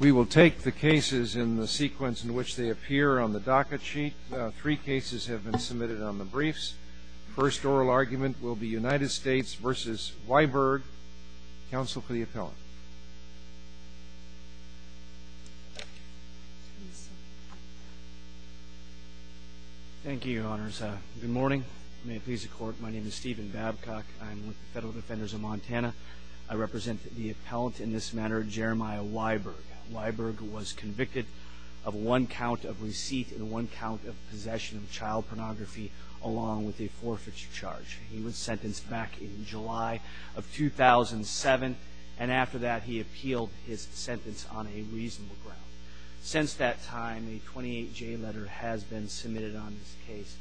We will take the cases in the sequence in which they appear on the docket sheet. Three cases have been submitted on the briefs. The first oral argument will be United States v. Wiberg. Counsel for the appellant. Thank you, Your Honors. Good morning. May it please the Court, my name is Stephen Babcock. I'm with the Federal Defenders of Montana. I represent the appellant in this matter, Jeremiah Wiberg. Wiberg was convicted of one count of receipt and one count of possession of child pornography along with a forfeiture charge. He was sentenced back in July of 2007 and after that he appealed his sentence on a reasonable ground. Since that time, a 28-J letter has been submitted on this case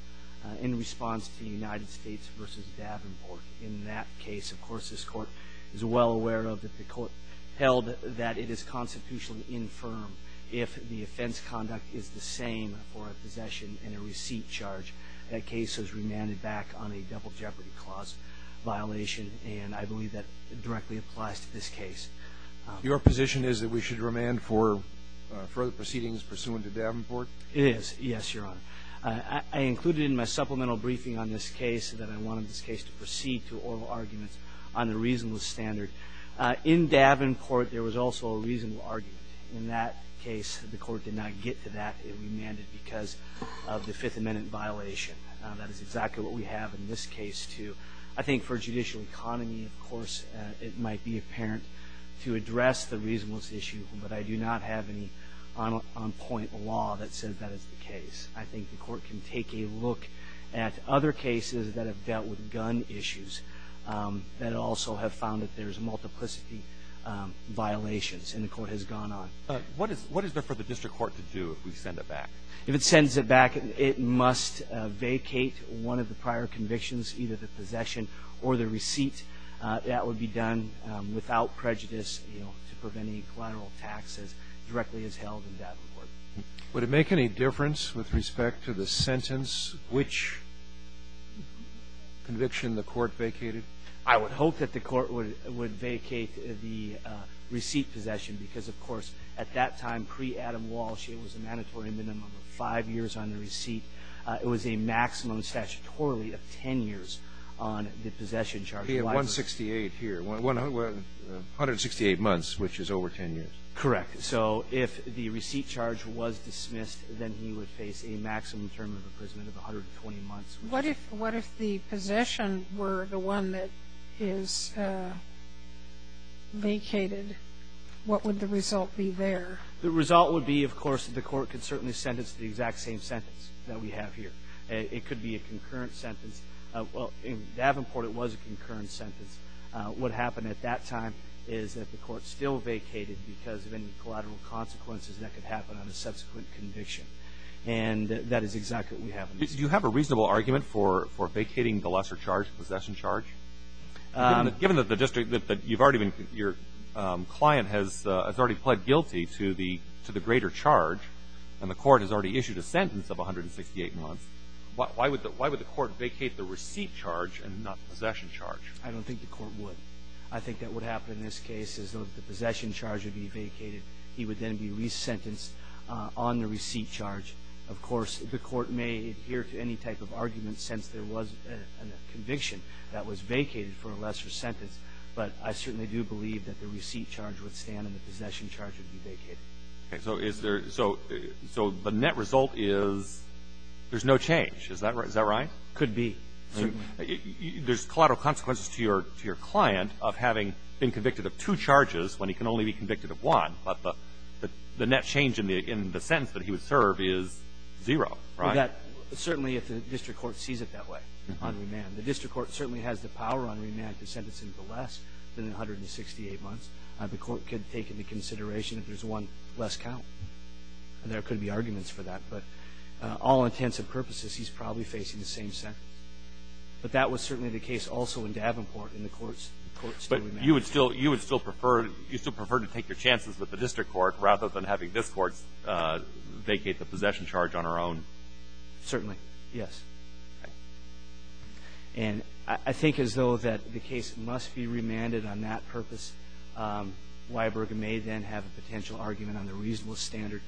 in response to United States v. Davenport. In that case, of course, this Court is well aware of that the Court held that it is constitutionally infirm if the offense conduct is the same for a possession and a receipt charge. That case was remanded back on a double jeopardy clause violation and I believe that directly applies to this case. Your position is that we should remand for further proceedings pursuant to Davenport? It is, yes, Your Honor. I included in my supplemental briefing on this case that I wanted this case to proceed to oral arguments on the reasonable standard. In Davenport, there was also a reasonable argument. In that case, the Court did not get to that. It remanded because of the Fifth Amendment violation. That is exactly what we have in this case, too. I think for judicial economy, of course, it might be apparent to address the reasonableness issue, but I do not have any on-point law that says that is the case. I think the Court can take a look at other cases that have dealt with gun issues that also have found that there is multiplicity violations and the Court has gone on. What is there for the district court to do if we send it back? If it sends it back, it must vacate one of the prior convictions, either the possession or the receipt. That would be done without prejudice, you know, to prevent any collateral taxes directly as held in Davenport. Would it make any difference with respect to the sentence which conviction the Court vacated? I would hope that the Court would vacate the receipt possession because, of course, at that time, pre-Adam Walsh, it was a mandatory minimum of five years on the receipt. It was a maximum statutorily of 10 years on the possession charge. We have 168 here, 168 months, which is over 10 years. Correct. So if the receipt charge was dismissed, then he would face a maximum term of imprisonment of 120 months. What if the possession were the one that is vacated? What would the result be there? The result would be, of course, the Court could certainly sentence the exact same sentence that we have here. It could be a concurrent sentence. Well, in Davenport, it was a concurrent sentence. What happened at that time is that the Court still vacated because of any collateral consequences that could happen on a subsequent conviction. And that is exactly what happened. Do you have a reasonable argument for vacating the lesser charge, possession charge? Given that the district that you've already been, your client has already pled guilty to the greater charge, and the Court has already issued a sentence of 168 months, why would the Court vacate the receipt charge and not the possession charge? I don't think the Court would. I think that what happened in this case is that the possession charge would be vacated. He would then be resentenced on the receipt charge. Of course, the Court may adhere to any type of argument since there was a conviction that was vacated for a lesser sentence. But I certainly do believe that the receipt charge would stand and the possession charge would be vacated. So the net result is there's no change. Is that right? Could be. There's collateral consequences to your client of having been convicted of two charges when he can only be convicted of one. But the net change in the sentence that he would serve is zero, right? Well, certainly if the district court sees it that way on remand. The district court certainly has the power on remand to sentence him to less than 168 months. The Court could take into consideration if there's one less count. There could be arguments for that. But all intents and purposes, he's probably facing the same sentence. But that was certainly the case also in Davenport, and the Court's still remanded. You would still prefer to take your chances with the district court rather than having this Court vacate the possession charge on our own? Certainly, yes. And I think as though that the case must be remanded on that purpose. Weiberg may then have a potential argument on the reasonable standard.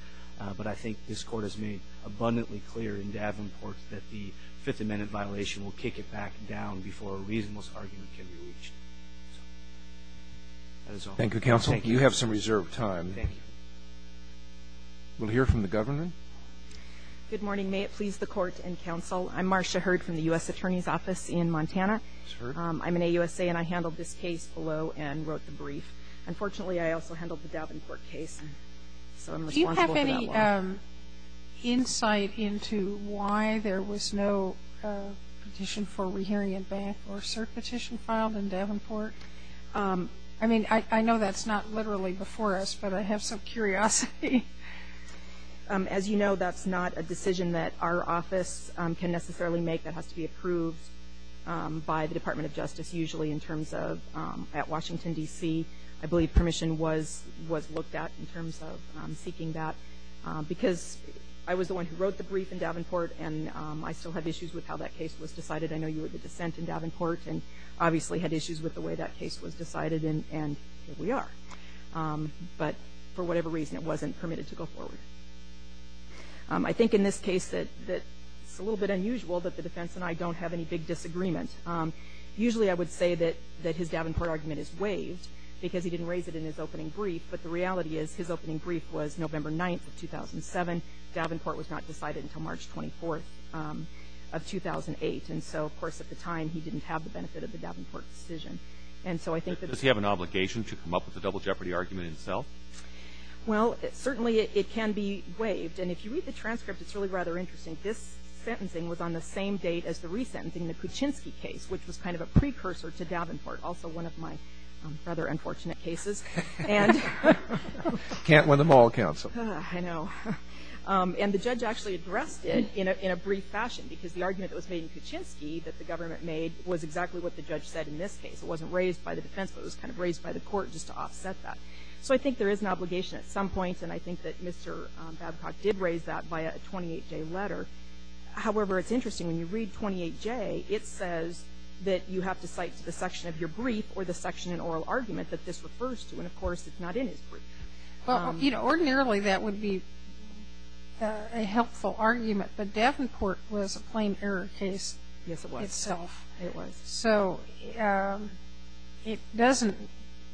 But I think this Court has made abundantly clear in Davenport that the Fifth Amendment violation will kick it back down before a reasonable argument can be reached. So, that is all. Thank you, Counsel. You have some reserved time. Thank you. We'll hear from the Governor. Good morning. May it please the Court and Counsel. I'm Marcia Hurd from the U.S. Attorney's Office in Montana. I'm an AUSA, and I handled this case below and wrote the brief. Unfortunately, I also handled the Davenport case, so I'm responsible for that one. Do you have any insight into why there was no petition for rehearing in Banff or cert petition filed in Davenport? I mean, I know that's not literally before us, but I have some curiosity. As you know, that's not a decision that our office can necessarily make. That has to be approved by the Department of Justice, usually in terms of at Washington, D.C. I believe permission was looked at in terms of seeking that, because I was the one who wrote the brief in Davenport, and I still have issues with how that case was decided. I know you were the dissent in Davenport, and obviously had issues with the way that case was decided, and here we are. But for whatever reason, it wasn't permitted to go forward. I think in this case that it's a little bit unusual that the defense and I don't have any big disagreement. Usually I would say that his Davenport argument is waived, because he didn't raise it in his opening brief, but the reality is his opening brief was November 9th of 2007. Davenport was not decided until March 24th of 2008, and so of course at the time, he didn't have the benefit of the Davenport decision. And so I think that- Does he have an obligation to come up with the double jeopardy argument itself? Well, certainly it can be waived. And if you read the transcript, it's really rather interesting. This sentencing was on the same date as the resentencing that Kuczynski case, which was kind of a precursor to Davenport, also one of my rather unfortunate cases, and- Can't win them all, counsel. I know, and the judge actually addressed it in a brief fashion, because the argument that was made in Kuczynski that the government made was exactly what the judge said in this case. It wasn't raised by the defense, but it was kind of raised by the court just to offset that. So I think there is an obligation at some point, and I think that Mr. Babcock did raise that by a 28-J letter. However, it's interesting. When you read 28-J, it says that you have to cite to the section of your brief or the section in oral argument that this refers to. And of course, it's not in his brief. Well, ordinarily that would be a helpful argument, but Davenport was a plain error case itself. Yes, it was. It was. So it doesn't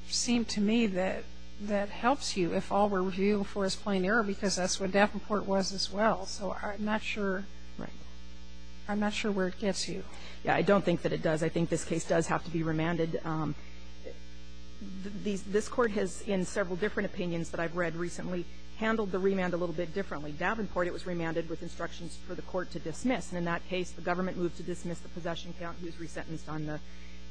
seem to me that that helps you if all we're reviewing for is plain error, because that's what Davenport was as well. So I'm not sure where it gets you. Yeah. I don't think that it does. I think this case does have to be remanded. This Court has, in several different opinions that I've read recently, handled the remand a little bit differently. Davenport, it was remanded with instructions for the Court to dismiss. And in that case, the government moved to dismiss the possession count. He was resentenced on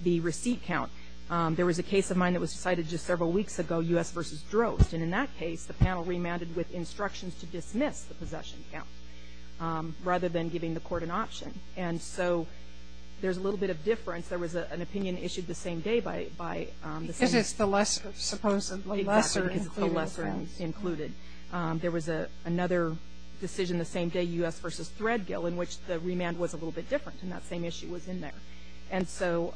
the receipt count. There was a case of mine that was cited just several weeks ago, U.S. v. Drost. And in that case, the panel remanded with instructions to dismiss the possession count, rather than giving the Court an option. And so there's a little bit of difference. There was an opinion issued the same day by the same group. Because it's the lesser, supposedly lesser included offense. Exactly. Because it's the lesser included. There was another decision the same day, U.S. v. Threadgill, in which the remand was a little bit different, and that same issue was in there. And so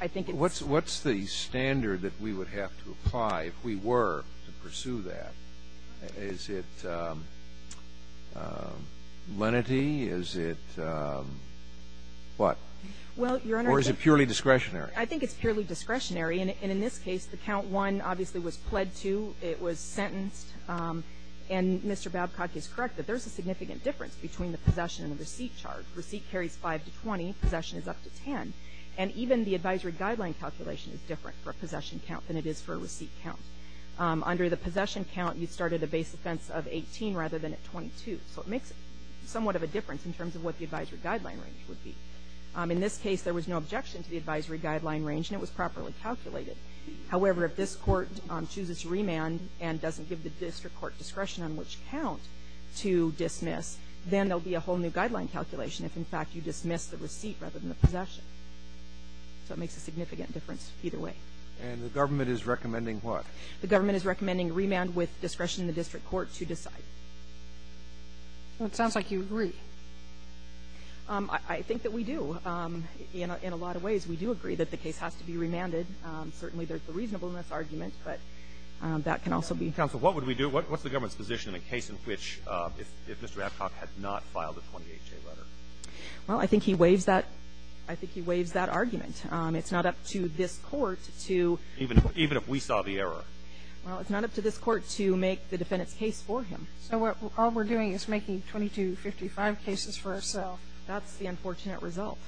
I think it's the same. What's the standard that we would have to apply if we were to pursue that? Is it lenity? Is it what? Well, Your Honor, I think the count one, obviously, was pled to. It was sentenced. And Mr. Babcock is correct that there's a significant difference between the possession and the receipt chart. Receipt carries 5 to 20. Possession is up to 10. And even the advisory guideline calculation is different for a possession count than it is for a receipt count. Under the possession count, you started a base offense of 18 rather than at 22. So it makes somewhat of a difference in terms of what the advisory guideline range would be. In this case, there was no objection to the advisory guideline range, and it was properly calculated. However, if this court chooses to remand and doesn't give the district court discretion on which count to dismiss, then there'll be a whole new guideline calculation if, in fact, you dismiss the receipt rather than the possession. So it makes a significant difference either way. And the government is recommending what? The government is recommending remand with discretion of the district court to decide. Well, it sounds like you agree. I think that we do. In a lot of ways, we do agree that the case has to be remanded. Certainly, there's the reasonableness argument, but that can also be. Counsel, what would we do? What's the government's position in a case in which if Mr. Babcock had not filed a 28-J letter? Well, I think he waives that. I think he waives that argument. It's not up to this court to. Even if we saw the error. Well, it's not up to this court to make the defendant's case for him. So all we're doing is making 2255 cases for ourself. That's the unfortunate result.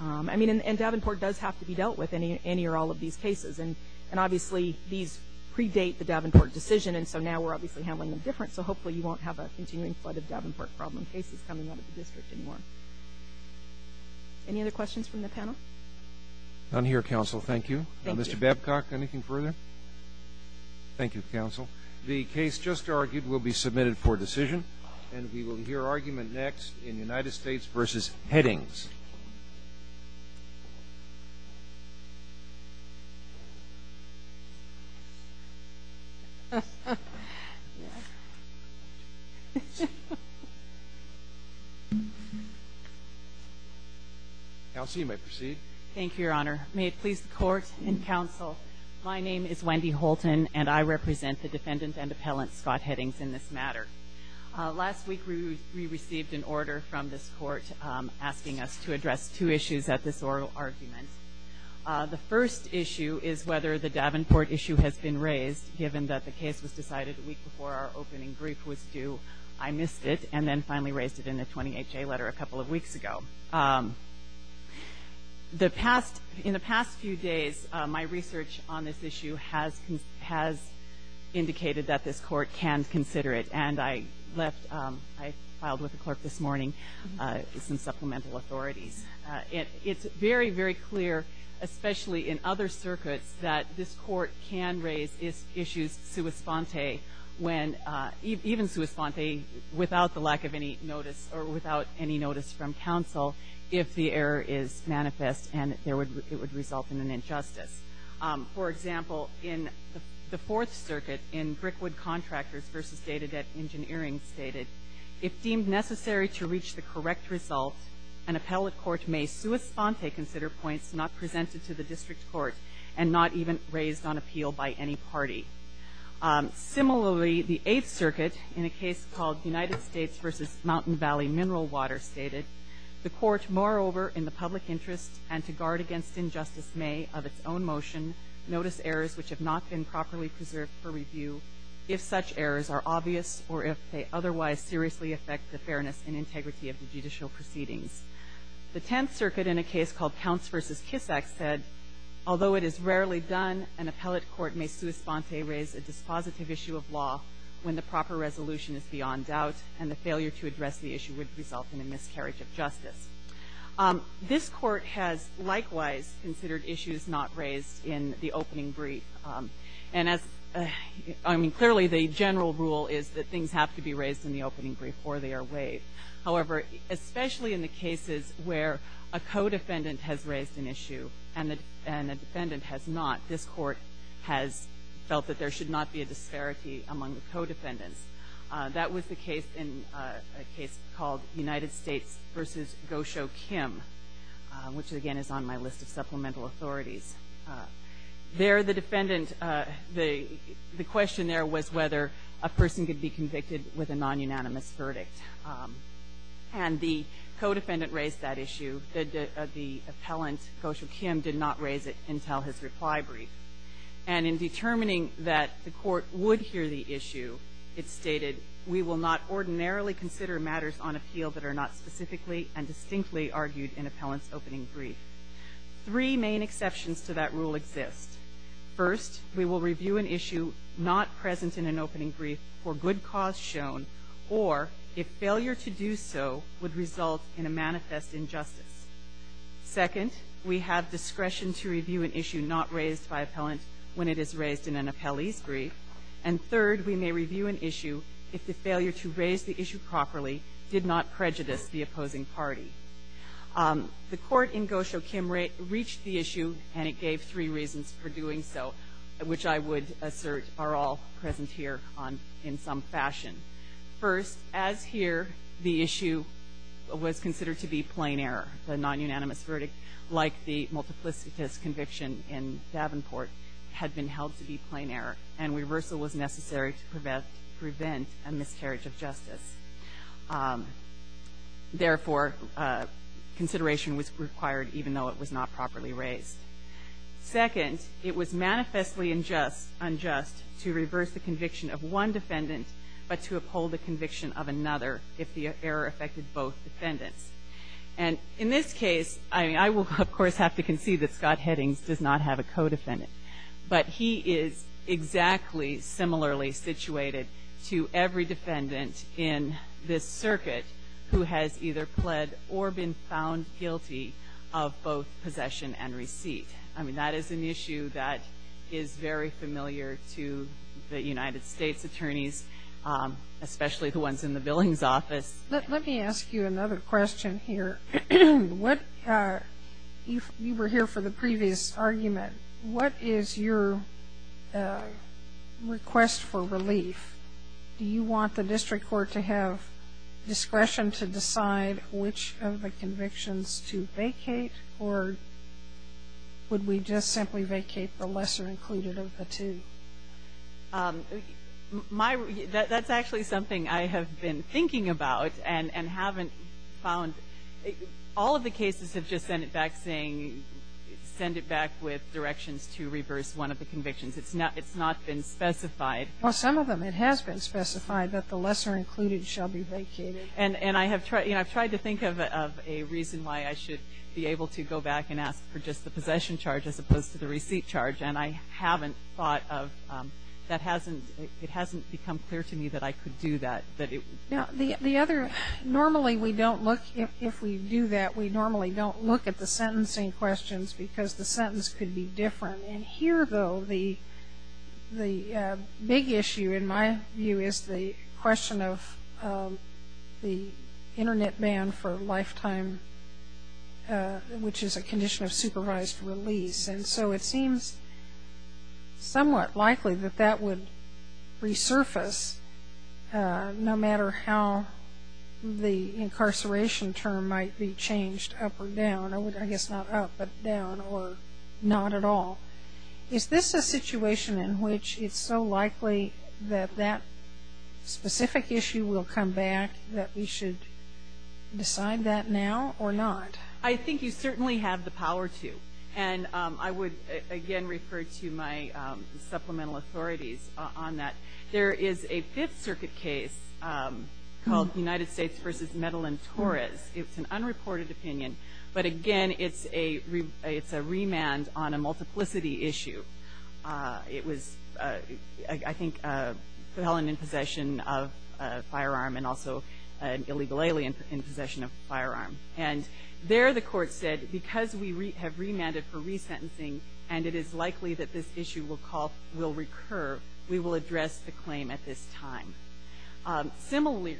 I mean, and Davenport does have to be dealt with in any or all of these cases. And obviously, these predate the Davenport decision. And so now we're obviously handling them different. So hopefully, you won't have a continuing flood of Davenport problem cases coming out of the district anymore. Any other questions from the panel? None here, counsel. Thank you. Thank you. Mr. Babcock, anything further? Thank you, counsel. The case just argued will be submitted for decision. And we will hear argument next in United States v. Headings. Counsel, you may proceed. Thank you, Your Honor. May it please the court and counsel, my name is Wendy Holton. And I represent the defendant and appellant, Scott Headings, in this matter. Last week, we received an order from this court asking us to address two issues at this oral argument. The first issue is whether the Davenport issue has been raised, given that the case was decided a week before our opening brief was due. I missed it, and then finally raised it in the 28-J letter a couple of weeks ago. In the past few days, my research on this issue has indicated that this court can consider it. And I filed with the clerk this morning some supplemental authorities. It's very, very clear, especially in other circuits, that this court can raise issues sua sponte, even sua sponte, without the lack of any notice or without any notice from counsel if the error is manifest and it would result in an injustice. For example, in the Fourth Circuit, in Brickwood Contractors v. Data Debt Engineering stated, if deemed necessary to reach the correct result, an appellate court may sua sponte consider points not presented to the district court and not even raised on appeal by any party. Similarly, the Eighth Circuit, in a case called United States v. Mountain Valley Mineral Water stated, the court, moreover, in the public interest and to guard against injustice may, of its own motion, notice errors which have not been properly preserved for review if such errors are obvious or if they otherwise seriously affect the fairness and integrity of the judicial proceedings. The Tenth Circuit in a case called Counts v. Kissack said, although it is rarely done, an appellate court may sua sponte raise a dispositive issue of law when the proper resolution is beyond doubt and the failure to address the issue would result in a miscarriage of justice. This court has, likewise, considered issues not raised in the opening brief. And as, I mean, clearly the general rule is that things have to be raised in the opening brief or they are waived. However, especially in the cases where a co-defendant has raised an issue and a defendant has not, this court has felt that there should not be a disparity among the co-defendants. That was the case in a case called United States v. Gosho Kim, which again is on my list of supplemental authorities. There the defendant, the question there was whether a person could be convicted with a non-unanimous verdict. And the co-defendant raised that issue. The appellant, Gosho Kim, did not raise it until his reply brief. And in determining that the court would hear the issue, it stated, we will not ordinarily consider matters on appeal that are not specifically and distinctly argued in appellant's opening brief. Three main exceptions to that rule exist. First, we will review an issue not present in an opening brief for good cause shown, or if failure to do so would result in a manifest injustice. Second, we have discretion to review an issue not raised by appellant when it is raised in an appellee's brief. And third, we may review an issue if the failure to raise the issue properly did not prejudice the opposing party. The court in Gosho Kim reached the issue and it gave three reasons for doing so, which I would assert are all present here in some fashion. First, as here, the issue was considered to be plain error. The non-unanimous verdict, like the multiplicitous conviction in Davenport, had been held to be plain error. And reversal was necessary to prevent a miscarriage of justice. Therefore, consideration was required even though it was not properly raised. Second, it was manifestly unjust to reverse the conviction of one defendant, but to uphold the conviction of another if the error affected both defendants. And in this case, I will, of course, have to concede that Scott Headings does not have a co-defendant. But he is exactly similarly situated to every defendant in this circuit who has either pled or been found guilty of both possession and receipt. I mean, that is an issue that is very familiar to the United States attorneys, especially the ones in the Billings office. Let me ask you another question here. What, if you were here for the previous argument, what is your request for relief? Do you want the district court to have discretion to decide which of the convictions to vacate, or would we just simply vacate the lesser included of the two? My, that's actually something I have been thinking about and haven't found. All of the cases have just sent it back saying, send it back with directions to reverse one of the convictions. It's not been specified. Well, some of them, it has been specified that the lesser included shall be vacated. And I have tried, you know, I've tried to think of a reason why I should be able to go back and ask for just the possession charge as opposed to the receipt charge. And I haven't thought of, that hasn't, it hasn't become clear to me that I could do that. Now, the other, normally we don't look, if we do that, we normally don't look at the sentencing questions because the sentence could be different. And here, though, the big issue, in my view, is the question of the internet ban for lifetime, which is a condition of supervised release. And so it seems somewhat likely that that would resurface, no matter how the incarceration term might be changed up or down. I guess not up, but down, or not at all. Is this a situation in which it's so likely that that specific issue will come back that we should decide that now or not? I think you certainly have the power to. And I would, again, refer to my supplemental authorities on that. There is a Fifth Circuit case called United States versus Medellin Torres. It's an unreported opinion. But again, it's a remand on a multiplicity issue. It was, I think, a felon in possession of a firearm and also an illegal alien in possession of a firearm. And there the court said, because we have remanded for resentencing and it is likely that this issue will call, will recur, we will address the claim at this time. Similarly,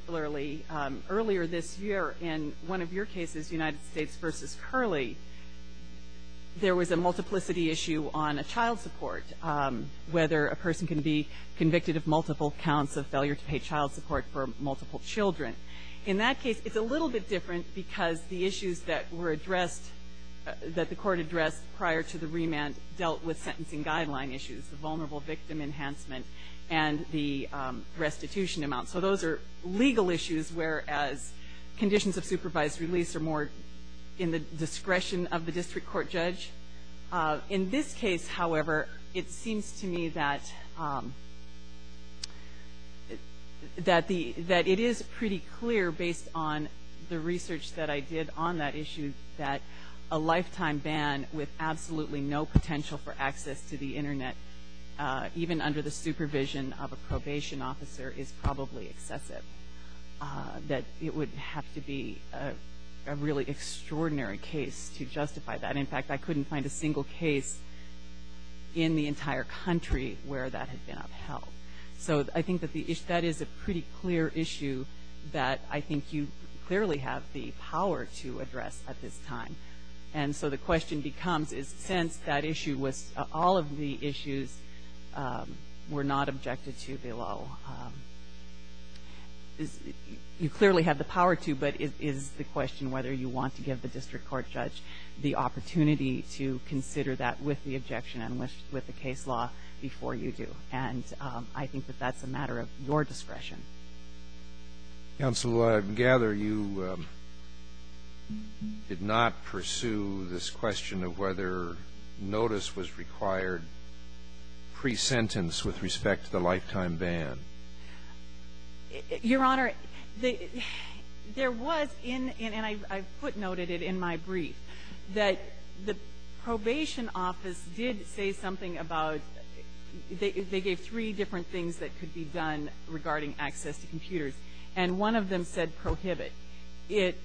earlier this year in one of your cases, United States versus Curley, there was a multiplicity issue on a child support, whether a person can be convicted of multiple counts of failure to pay child support for multiple children. In that case, it's a little bit different because the issues that were addressed, that the court addressed prior to the remand dealt with sentencing guideline issues, the vulnerable victim enhancement, and the restitution amount. So those are legal issues, whereas conditions of supervised release are more in the discretion of the district court judge. In this case, however, it seems to me that, that the, that it is pretty clear based on the research that I did on that issue that a lifetime ban with absolutely no potential for access to the internet, even under the supervision of a probation officer, is probably excessive. That it would have to be a really extraordinary case to justify that. In fact, I couldn't find a single case in the entire country where that had been upheld. So I think that the, that is a pretty clear issue that I think you clearly have the power to address at this time. And so the question becomes is, since that issue was, all of the issues were not objected to below, is, you clearly have the power to, but is the question whether you want to give the district court judge the opportunity to consider that with the objection and with the case law before you do. And I think that that's a matter of your discretion. Roberts. Counsel, I gather you did not pursue this question of whether notice was required pre-sentence with respect to the lifetime ban. Your Honor, there was in, and I put note at it in my brief, that the probation office did say something about, they gave three different things that could be done regarding access to computers. And one of them said prohibit. It,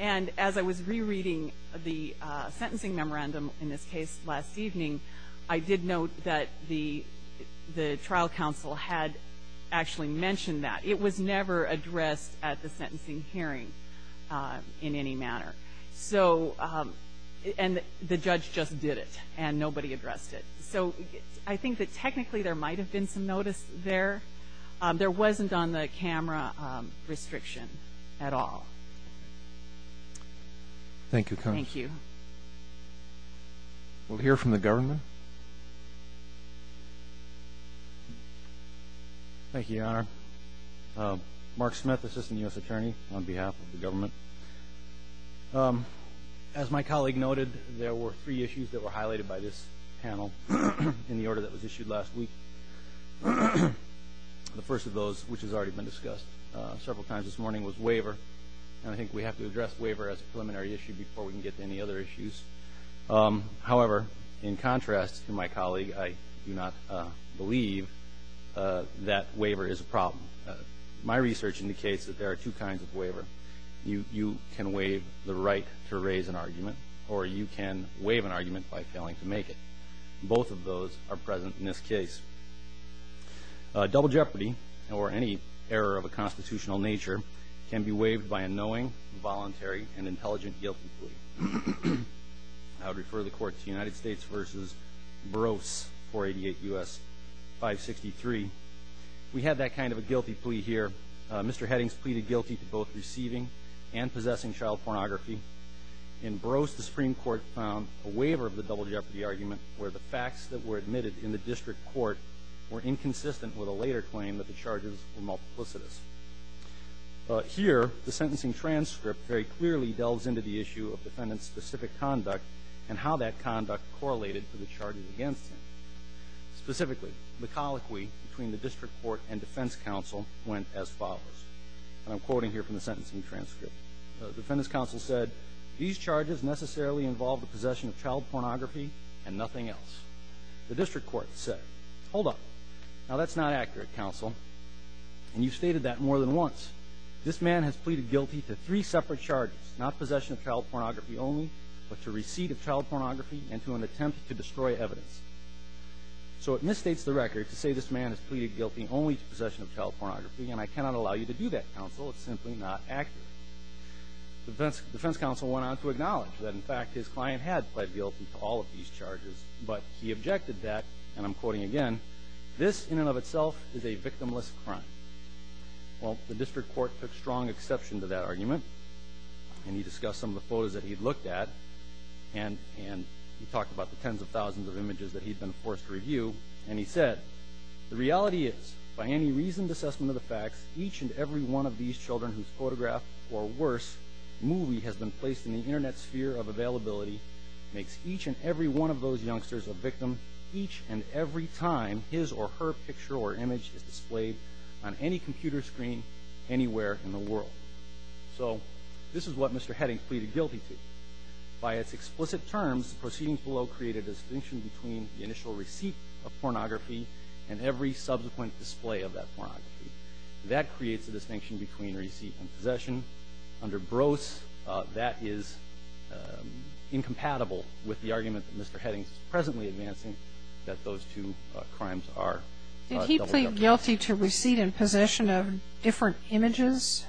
and as I was rereading the sentencing memorandum in this case last evening, I did note that the, the trial counsel had actually mentioned that. It was never addressed at the sentencing hearing in any manner. So, and the judge just did it. And nobody addressed it. So, I think that technically there might have been some notice there. There wasn't on the camera restriction at all. Thank you, counsel. Thank you. We'll hear from the government. Thank you, Your Honor. Mark Smith, Assistant U.S. Attorney on behalf of the government. As my colleague noted, there were three issues that were highlighted by this panel. In the order that was issued last week, the first of those, which has already been discussed several times this morning, was waiver. And I think we have to address waiver as a preliminary issue before we can get to any other issues. However, in contrast to my colleague, I do not believe that waiver is a problem. My research indicates that there are two kinds of waiver. You, you can waive the right to raise an argument, or you can waive an argument by failing to make it. Both of those are present in this case. Double jeopardy, or any error of a constitutional nature, can be waived by a knowing, voluntary, and intelligent guilty plea. I would refer the court to United States versus Burroughs, 488 U.S. 563. We have that kind of a guilty plea here. Mr. Headings pleaded guilty to both receiving and possessing child pornography. In Burroughs, the Supreme Court found a waiver of the double jeopardy argument where the facts that were admitted in the district court were inconsistent with a later claim that the charges were multiplicitous. Here, the sentencing transcript very clearly delves into the issue of defendant's specific conduct and how that conduct correlated to the charges against him. Specifically, the colloquy between the district court and defense counsel went as follows. And I'm quoting here from the sentencing transcript. The defendant's counsel said, these charges necessarily involve the possession of child pornography and nothing else. The district court said, hold up. Now that's not accurate, counsel, and you've stated that more than once. This man has pleaded guilty to three separate charges, not possession of child pornography only, but to receipt of child pornography and to an attempt to destroy evidence. So it misstates the record to say this man has pleaded guilty only to possession of child pornography, and I cannot allow you to do that, counsel. It's simply not accurate. The defense counsel went on to acknowledge that, in fact, his client had pled guilty to all of these charges. But he objected that, and I'm quoting again, this in and of itself is a victimless crime. Well, the district court took strong exception to that argument, and he discussed some of the photos that he'd looked at. And he talked about the tens of thousands of images that he'd been forced to review. And he said, the reality is, by any reasoned assessment of the facts, each and every one of these children whose photograph, or worse, movie has been placed in the Internet sphere of availability, makes each and every one of those youngsters a victim each and every time his or her picture or image is displayed on any computer screen anywhere in the world. So this is what Mr. Heading pleaded guilty to. By its explicit terms, the proceedings below create a distinction between the initial receipt of pornography and every subsequent display of that pornography. That creates a distinction between receipt and possession. Under Brose, that is incompatible with the argument that Mr. Heading is presently advancing, that those two crimes are double jeopardy. Did he plead guilty to receipt and possession of different images?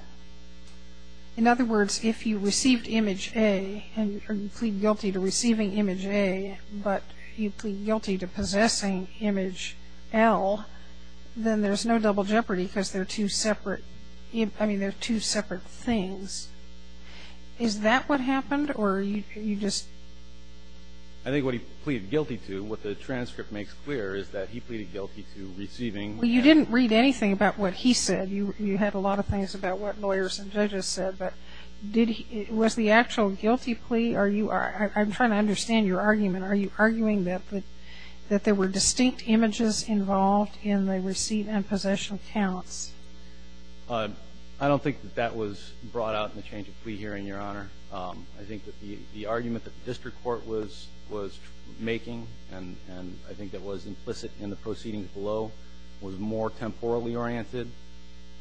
In other words, if you received image A, and you plead guilty to receiving image A, but you plead guilty to possessing image L, then there's no double jeopardy because they're two separate things. Is that what happened, or you just- I think what he pleaded guilty to, what the transcript makes clear is that he pleaded guilty to receiving- Well, you didn't read anything about what he said. You had a lot of things about what lawyers and judges said. But was the actual guilty plea, or I'm trying to understand your argument. Are you arguing that there were distinct images involved in the receipt and possession accounts? I don't think that that was brought out in the change of plea hearing, Your Honor. I think that the argument that the district court was making, and I think that was implicit in the proceedings below, was more temporally oriented.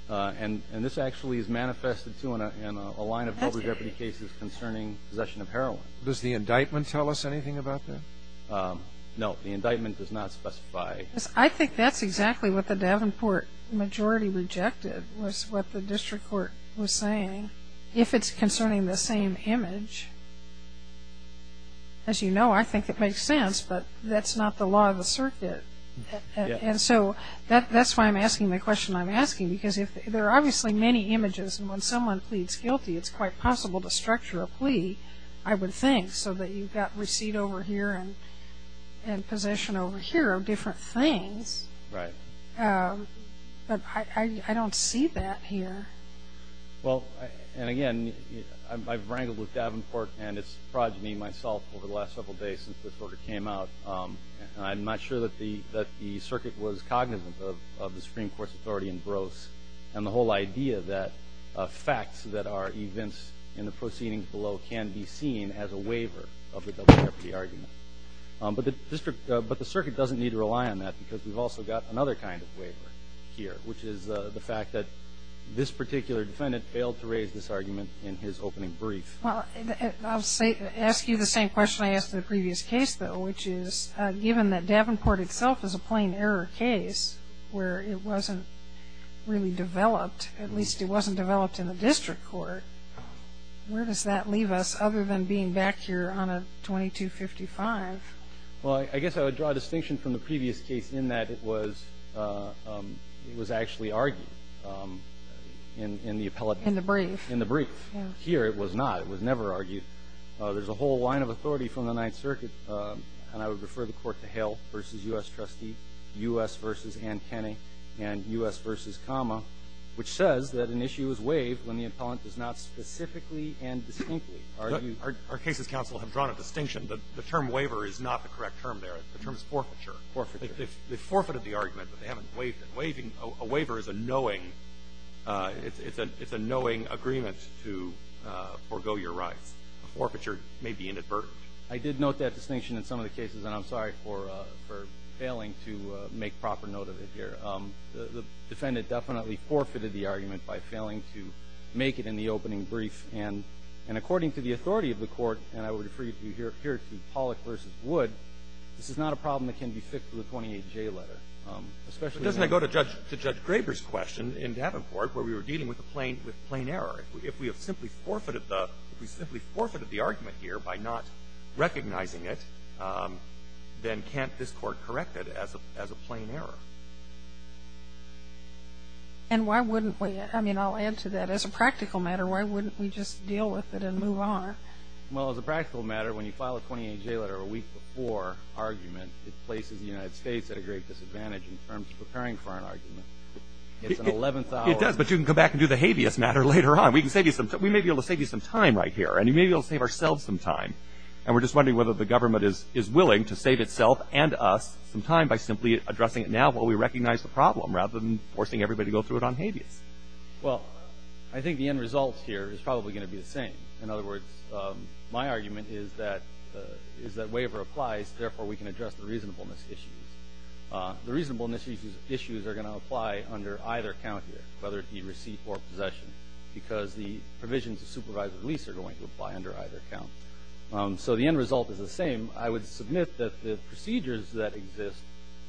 And this actually is manifested, too, in a line of double jeopardy cases concerning possession of heroin. Does the indictment tell us anything about that? No, the indictment does not specify- I think that's exactly what the Davenport majority rejected, was what the district court was saying. If it's concerning the same image, as you know, I think it makes sense, but that's not the law of the circuit. And so that's why I'm asking the question I'm asking, because there are obviously many images, and when someone pleads guilty, it's quite possible to structure a plea, I would think, so that you've got receipt over here and possession over here of different things. Right. But I don't see that here. Well, and again, I've wrangled with Davenport and its progeny, myself, over the last several days since this order came out. I'm not sure that the circuit was cognizant of the Supreme Court's authority in Gross, and the whole idea that facts that are events in the proceedings below can be seen as a waiver of the double jeopardy argument. But the circuit doesn't need to rely on that, because we've also got another kind of waiver here, which is the fact that this particular defendant failed to raise this argument in his opening brief. Well, I'll ask you the same question I asked in the previous case, though, which is given that Davenport itself is a plain error case, where it wasn't really developed, at least it wasn't developed in the district court. Where does that leave us, other than being back here on a 2255? Well, I guess I would draw a distinction from the previous case in that it was actually argued in the appellate- In the brief. In the brief. Here, it was not. It was never argued. There's a whole line of authority from the Ninth Circuit, and I would refer the court to Hale v. U.S. Trustee, U.S. v. Ann Kenney, and U.S. v. Comma, which says that an issue is waived when the appellant does not specifically and distinctly argue- Our cases counsel have drawn a distinction. The term waiver is not the correct term there. The term is forfeiture. Forfeiture. They forfeited the argument, but they haven't waived it. Waiving, a waiver is a knowing, it's a knowing agreement to forgo your rights. A forfeiture may be inadvertent. I did note that distinction in some of the cases, and I'm sorry for failing to make proper note of it here. The defendant definitely forfeited the argument by failing to make it in the opening brief, and according to the authority of the court, and I would refer you here to Pollack v. Wood, this is not a problem that can be fixed with a 28J letter, especially- But doesn't that go to Judge Graber's question in Davenport, where we were dealing with a plain error? If we have simply forfeited the argument here by not recognizing it, then can't this court correct it as a plain error? And why wouldn't we? I mean, I'll add to that. As a practical matter, why wouldn't we just deal with it and move on? Well, as a practical matter, when you file a 28J letter a week before argument, it places the United States at a great disadvantage in terms of preparing for an argument. It's an 11th hour- It does, but you can come back and do the habeas matter later on. We can save you some time. We may be able to save you some time right here, and we may be able to save ourselves some time, and we're just wondering whether the government is willing to save itself and us some time by simply addressing it now while we recognize the problem, rather than forcing everybody to go through it on habeas. Well, I think the end result here is probably going to be the same. In other words, my argument is that waiver applies. Therefore, we can address the reasonableness issues. The reasonableness issues are going to apply under either county, whether it be receipt or possession, because the provisions of supervised release are going to apply under either county. So the end result is the same. I would submit that the procedures that exist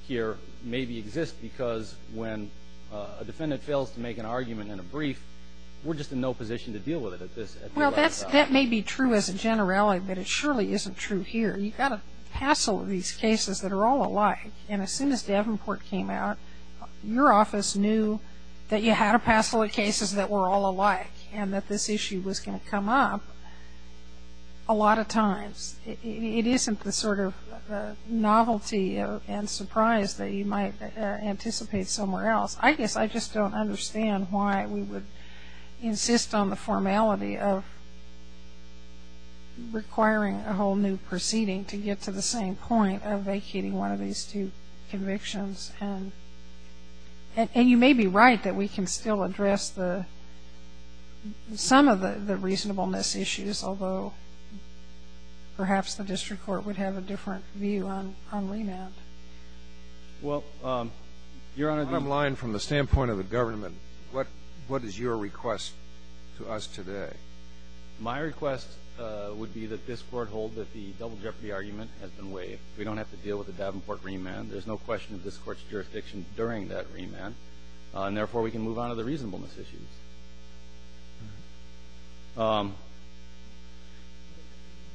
here maybe exist because when a defendant fails to make an argument in a brief, we're just in no position to deal with it at this level. Well, that may be true as a generale, but it surely isn't true here. You've got a hassle of these cases that are all alike, and as soon as Davenport came out, your office knew that you had a hassle of cases that were all alike and that this issue was going to come up a lot of times. It isn't the sort of novelty and surprise that you might anticipate somewhere else. I guess I just don't understand why we would insist on the formality of requiring a whole new proceeding to get to the same point of vacating one of these two convictions, and you may be right that we can still address some of the reasonableness issues, although perhaps the district court would have a different view on remand. Well, Your Honor, the bottom line from the standpoint of the government, what is your request to us today? My request would be that this Court hold that the double jeopardy argument has been waived. We don't have to deal with the Davenport remand. There's no question of this Court's jurisdiction during that remand, and therefore, we can move on to the reasonableness issues.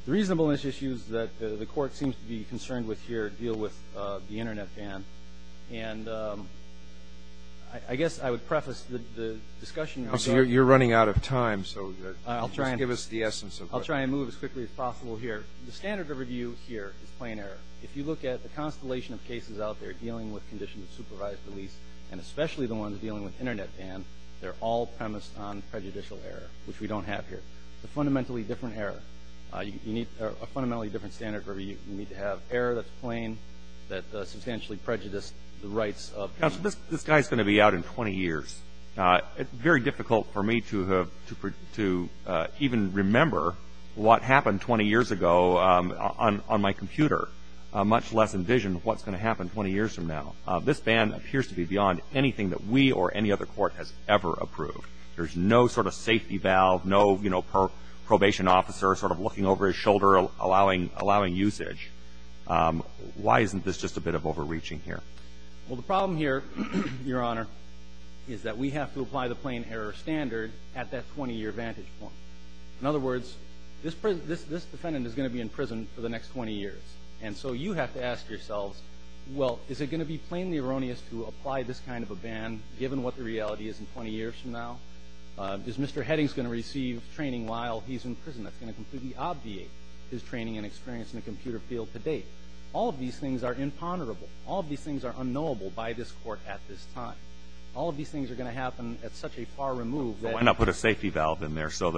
The reasonableness issues that the Court seems to be concerned with here deal with the Internet ban, and I guess I would preface the discussion. You're running out of time, so just give us the essence of it. I'll try and move as quickly as possible here. The standard of review here is plain error. If you look at the constellation of cases out there dealing with conditions of supervised release, and especially the ones dealing with Internet ban, they're all premised on prejudicial error, which we don't have here. It's a fundamentally different error. You need a fundamentally different standard of review. You need to have error that's plain, that substantially prejudiced the rights of people. Counsel, this guy's going to be out in 20 years. It's very difficult for me to even remember what happened 20 years ago on my computer, much less envision what's going to happen 20 years from now. This ban appears to be beyond anything that we or any other court has ever approved. There's no sort of safety valve, no, you know, probation officer sort of looking over his shoulder, allowing usage. Why isn't this just a bit of overreaching here? Well, the problem here, Your Honor, is that we have to apply the plain error standard at that 20-year vantage point. In other words, this defendant is going to be in prison for the next 20 years. And so you have to ask yourselves, well, is it going to be plainly erroneous to apply this kind of a ban, given what the reality is in 20 years from now? Is Mr. Heading's going to receive training while he's in prison that's going to completely obviate his training and experience in the computer field to date? All of these things are imponderable. All of these things are unknowable by this court at this time. All of these things are going to happen at such a far remove that- Why not put a safety valve in there so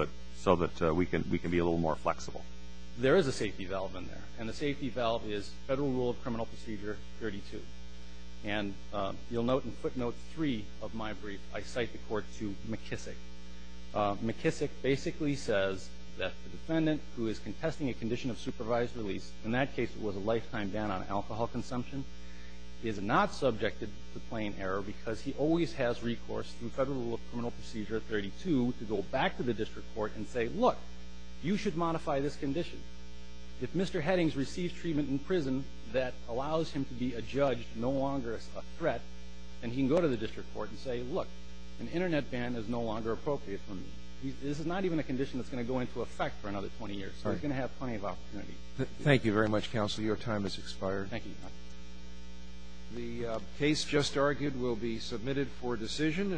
that we can be a little more flexible? There is a safety valve in there. And the safety valve is Federal Rule of Criminal Procedure 32. And you'll note in footnote three of my brief, I cite the court to McKissick. McKissick basically says that the defendant who is contesting a condition of supervised release, in that case it was a lifetime ban on alcohol consumption, is not subjected to plain error because he always has recourse through Federal Rule of Criminal Procedure 32 to go back to the district court and say, look, you should modify this condition. If Mr. Heading's received treatment in prison that allows him to be a judge, no longer a threat, then he can go to the district court and say, look, an internet ban is no longer appropriate for me. This is not even a condition that's going to go into effect for another 20 years. So you're going to have plenty of opportunity. Thank you very much, counsel. Your time has expired. Thank you. The case just argued will be submitted for decision.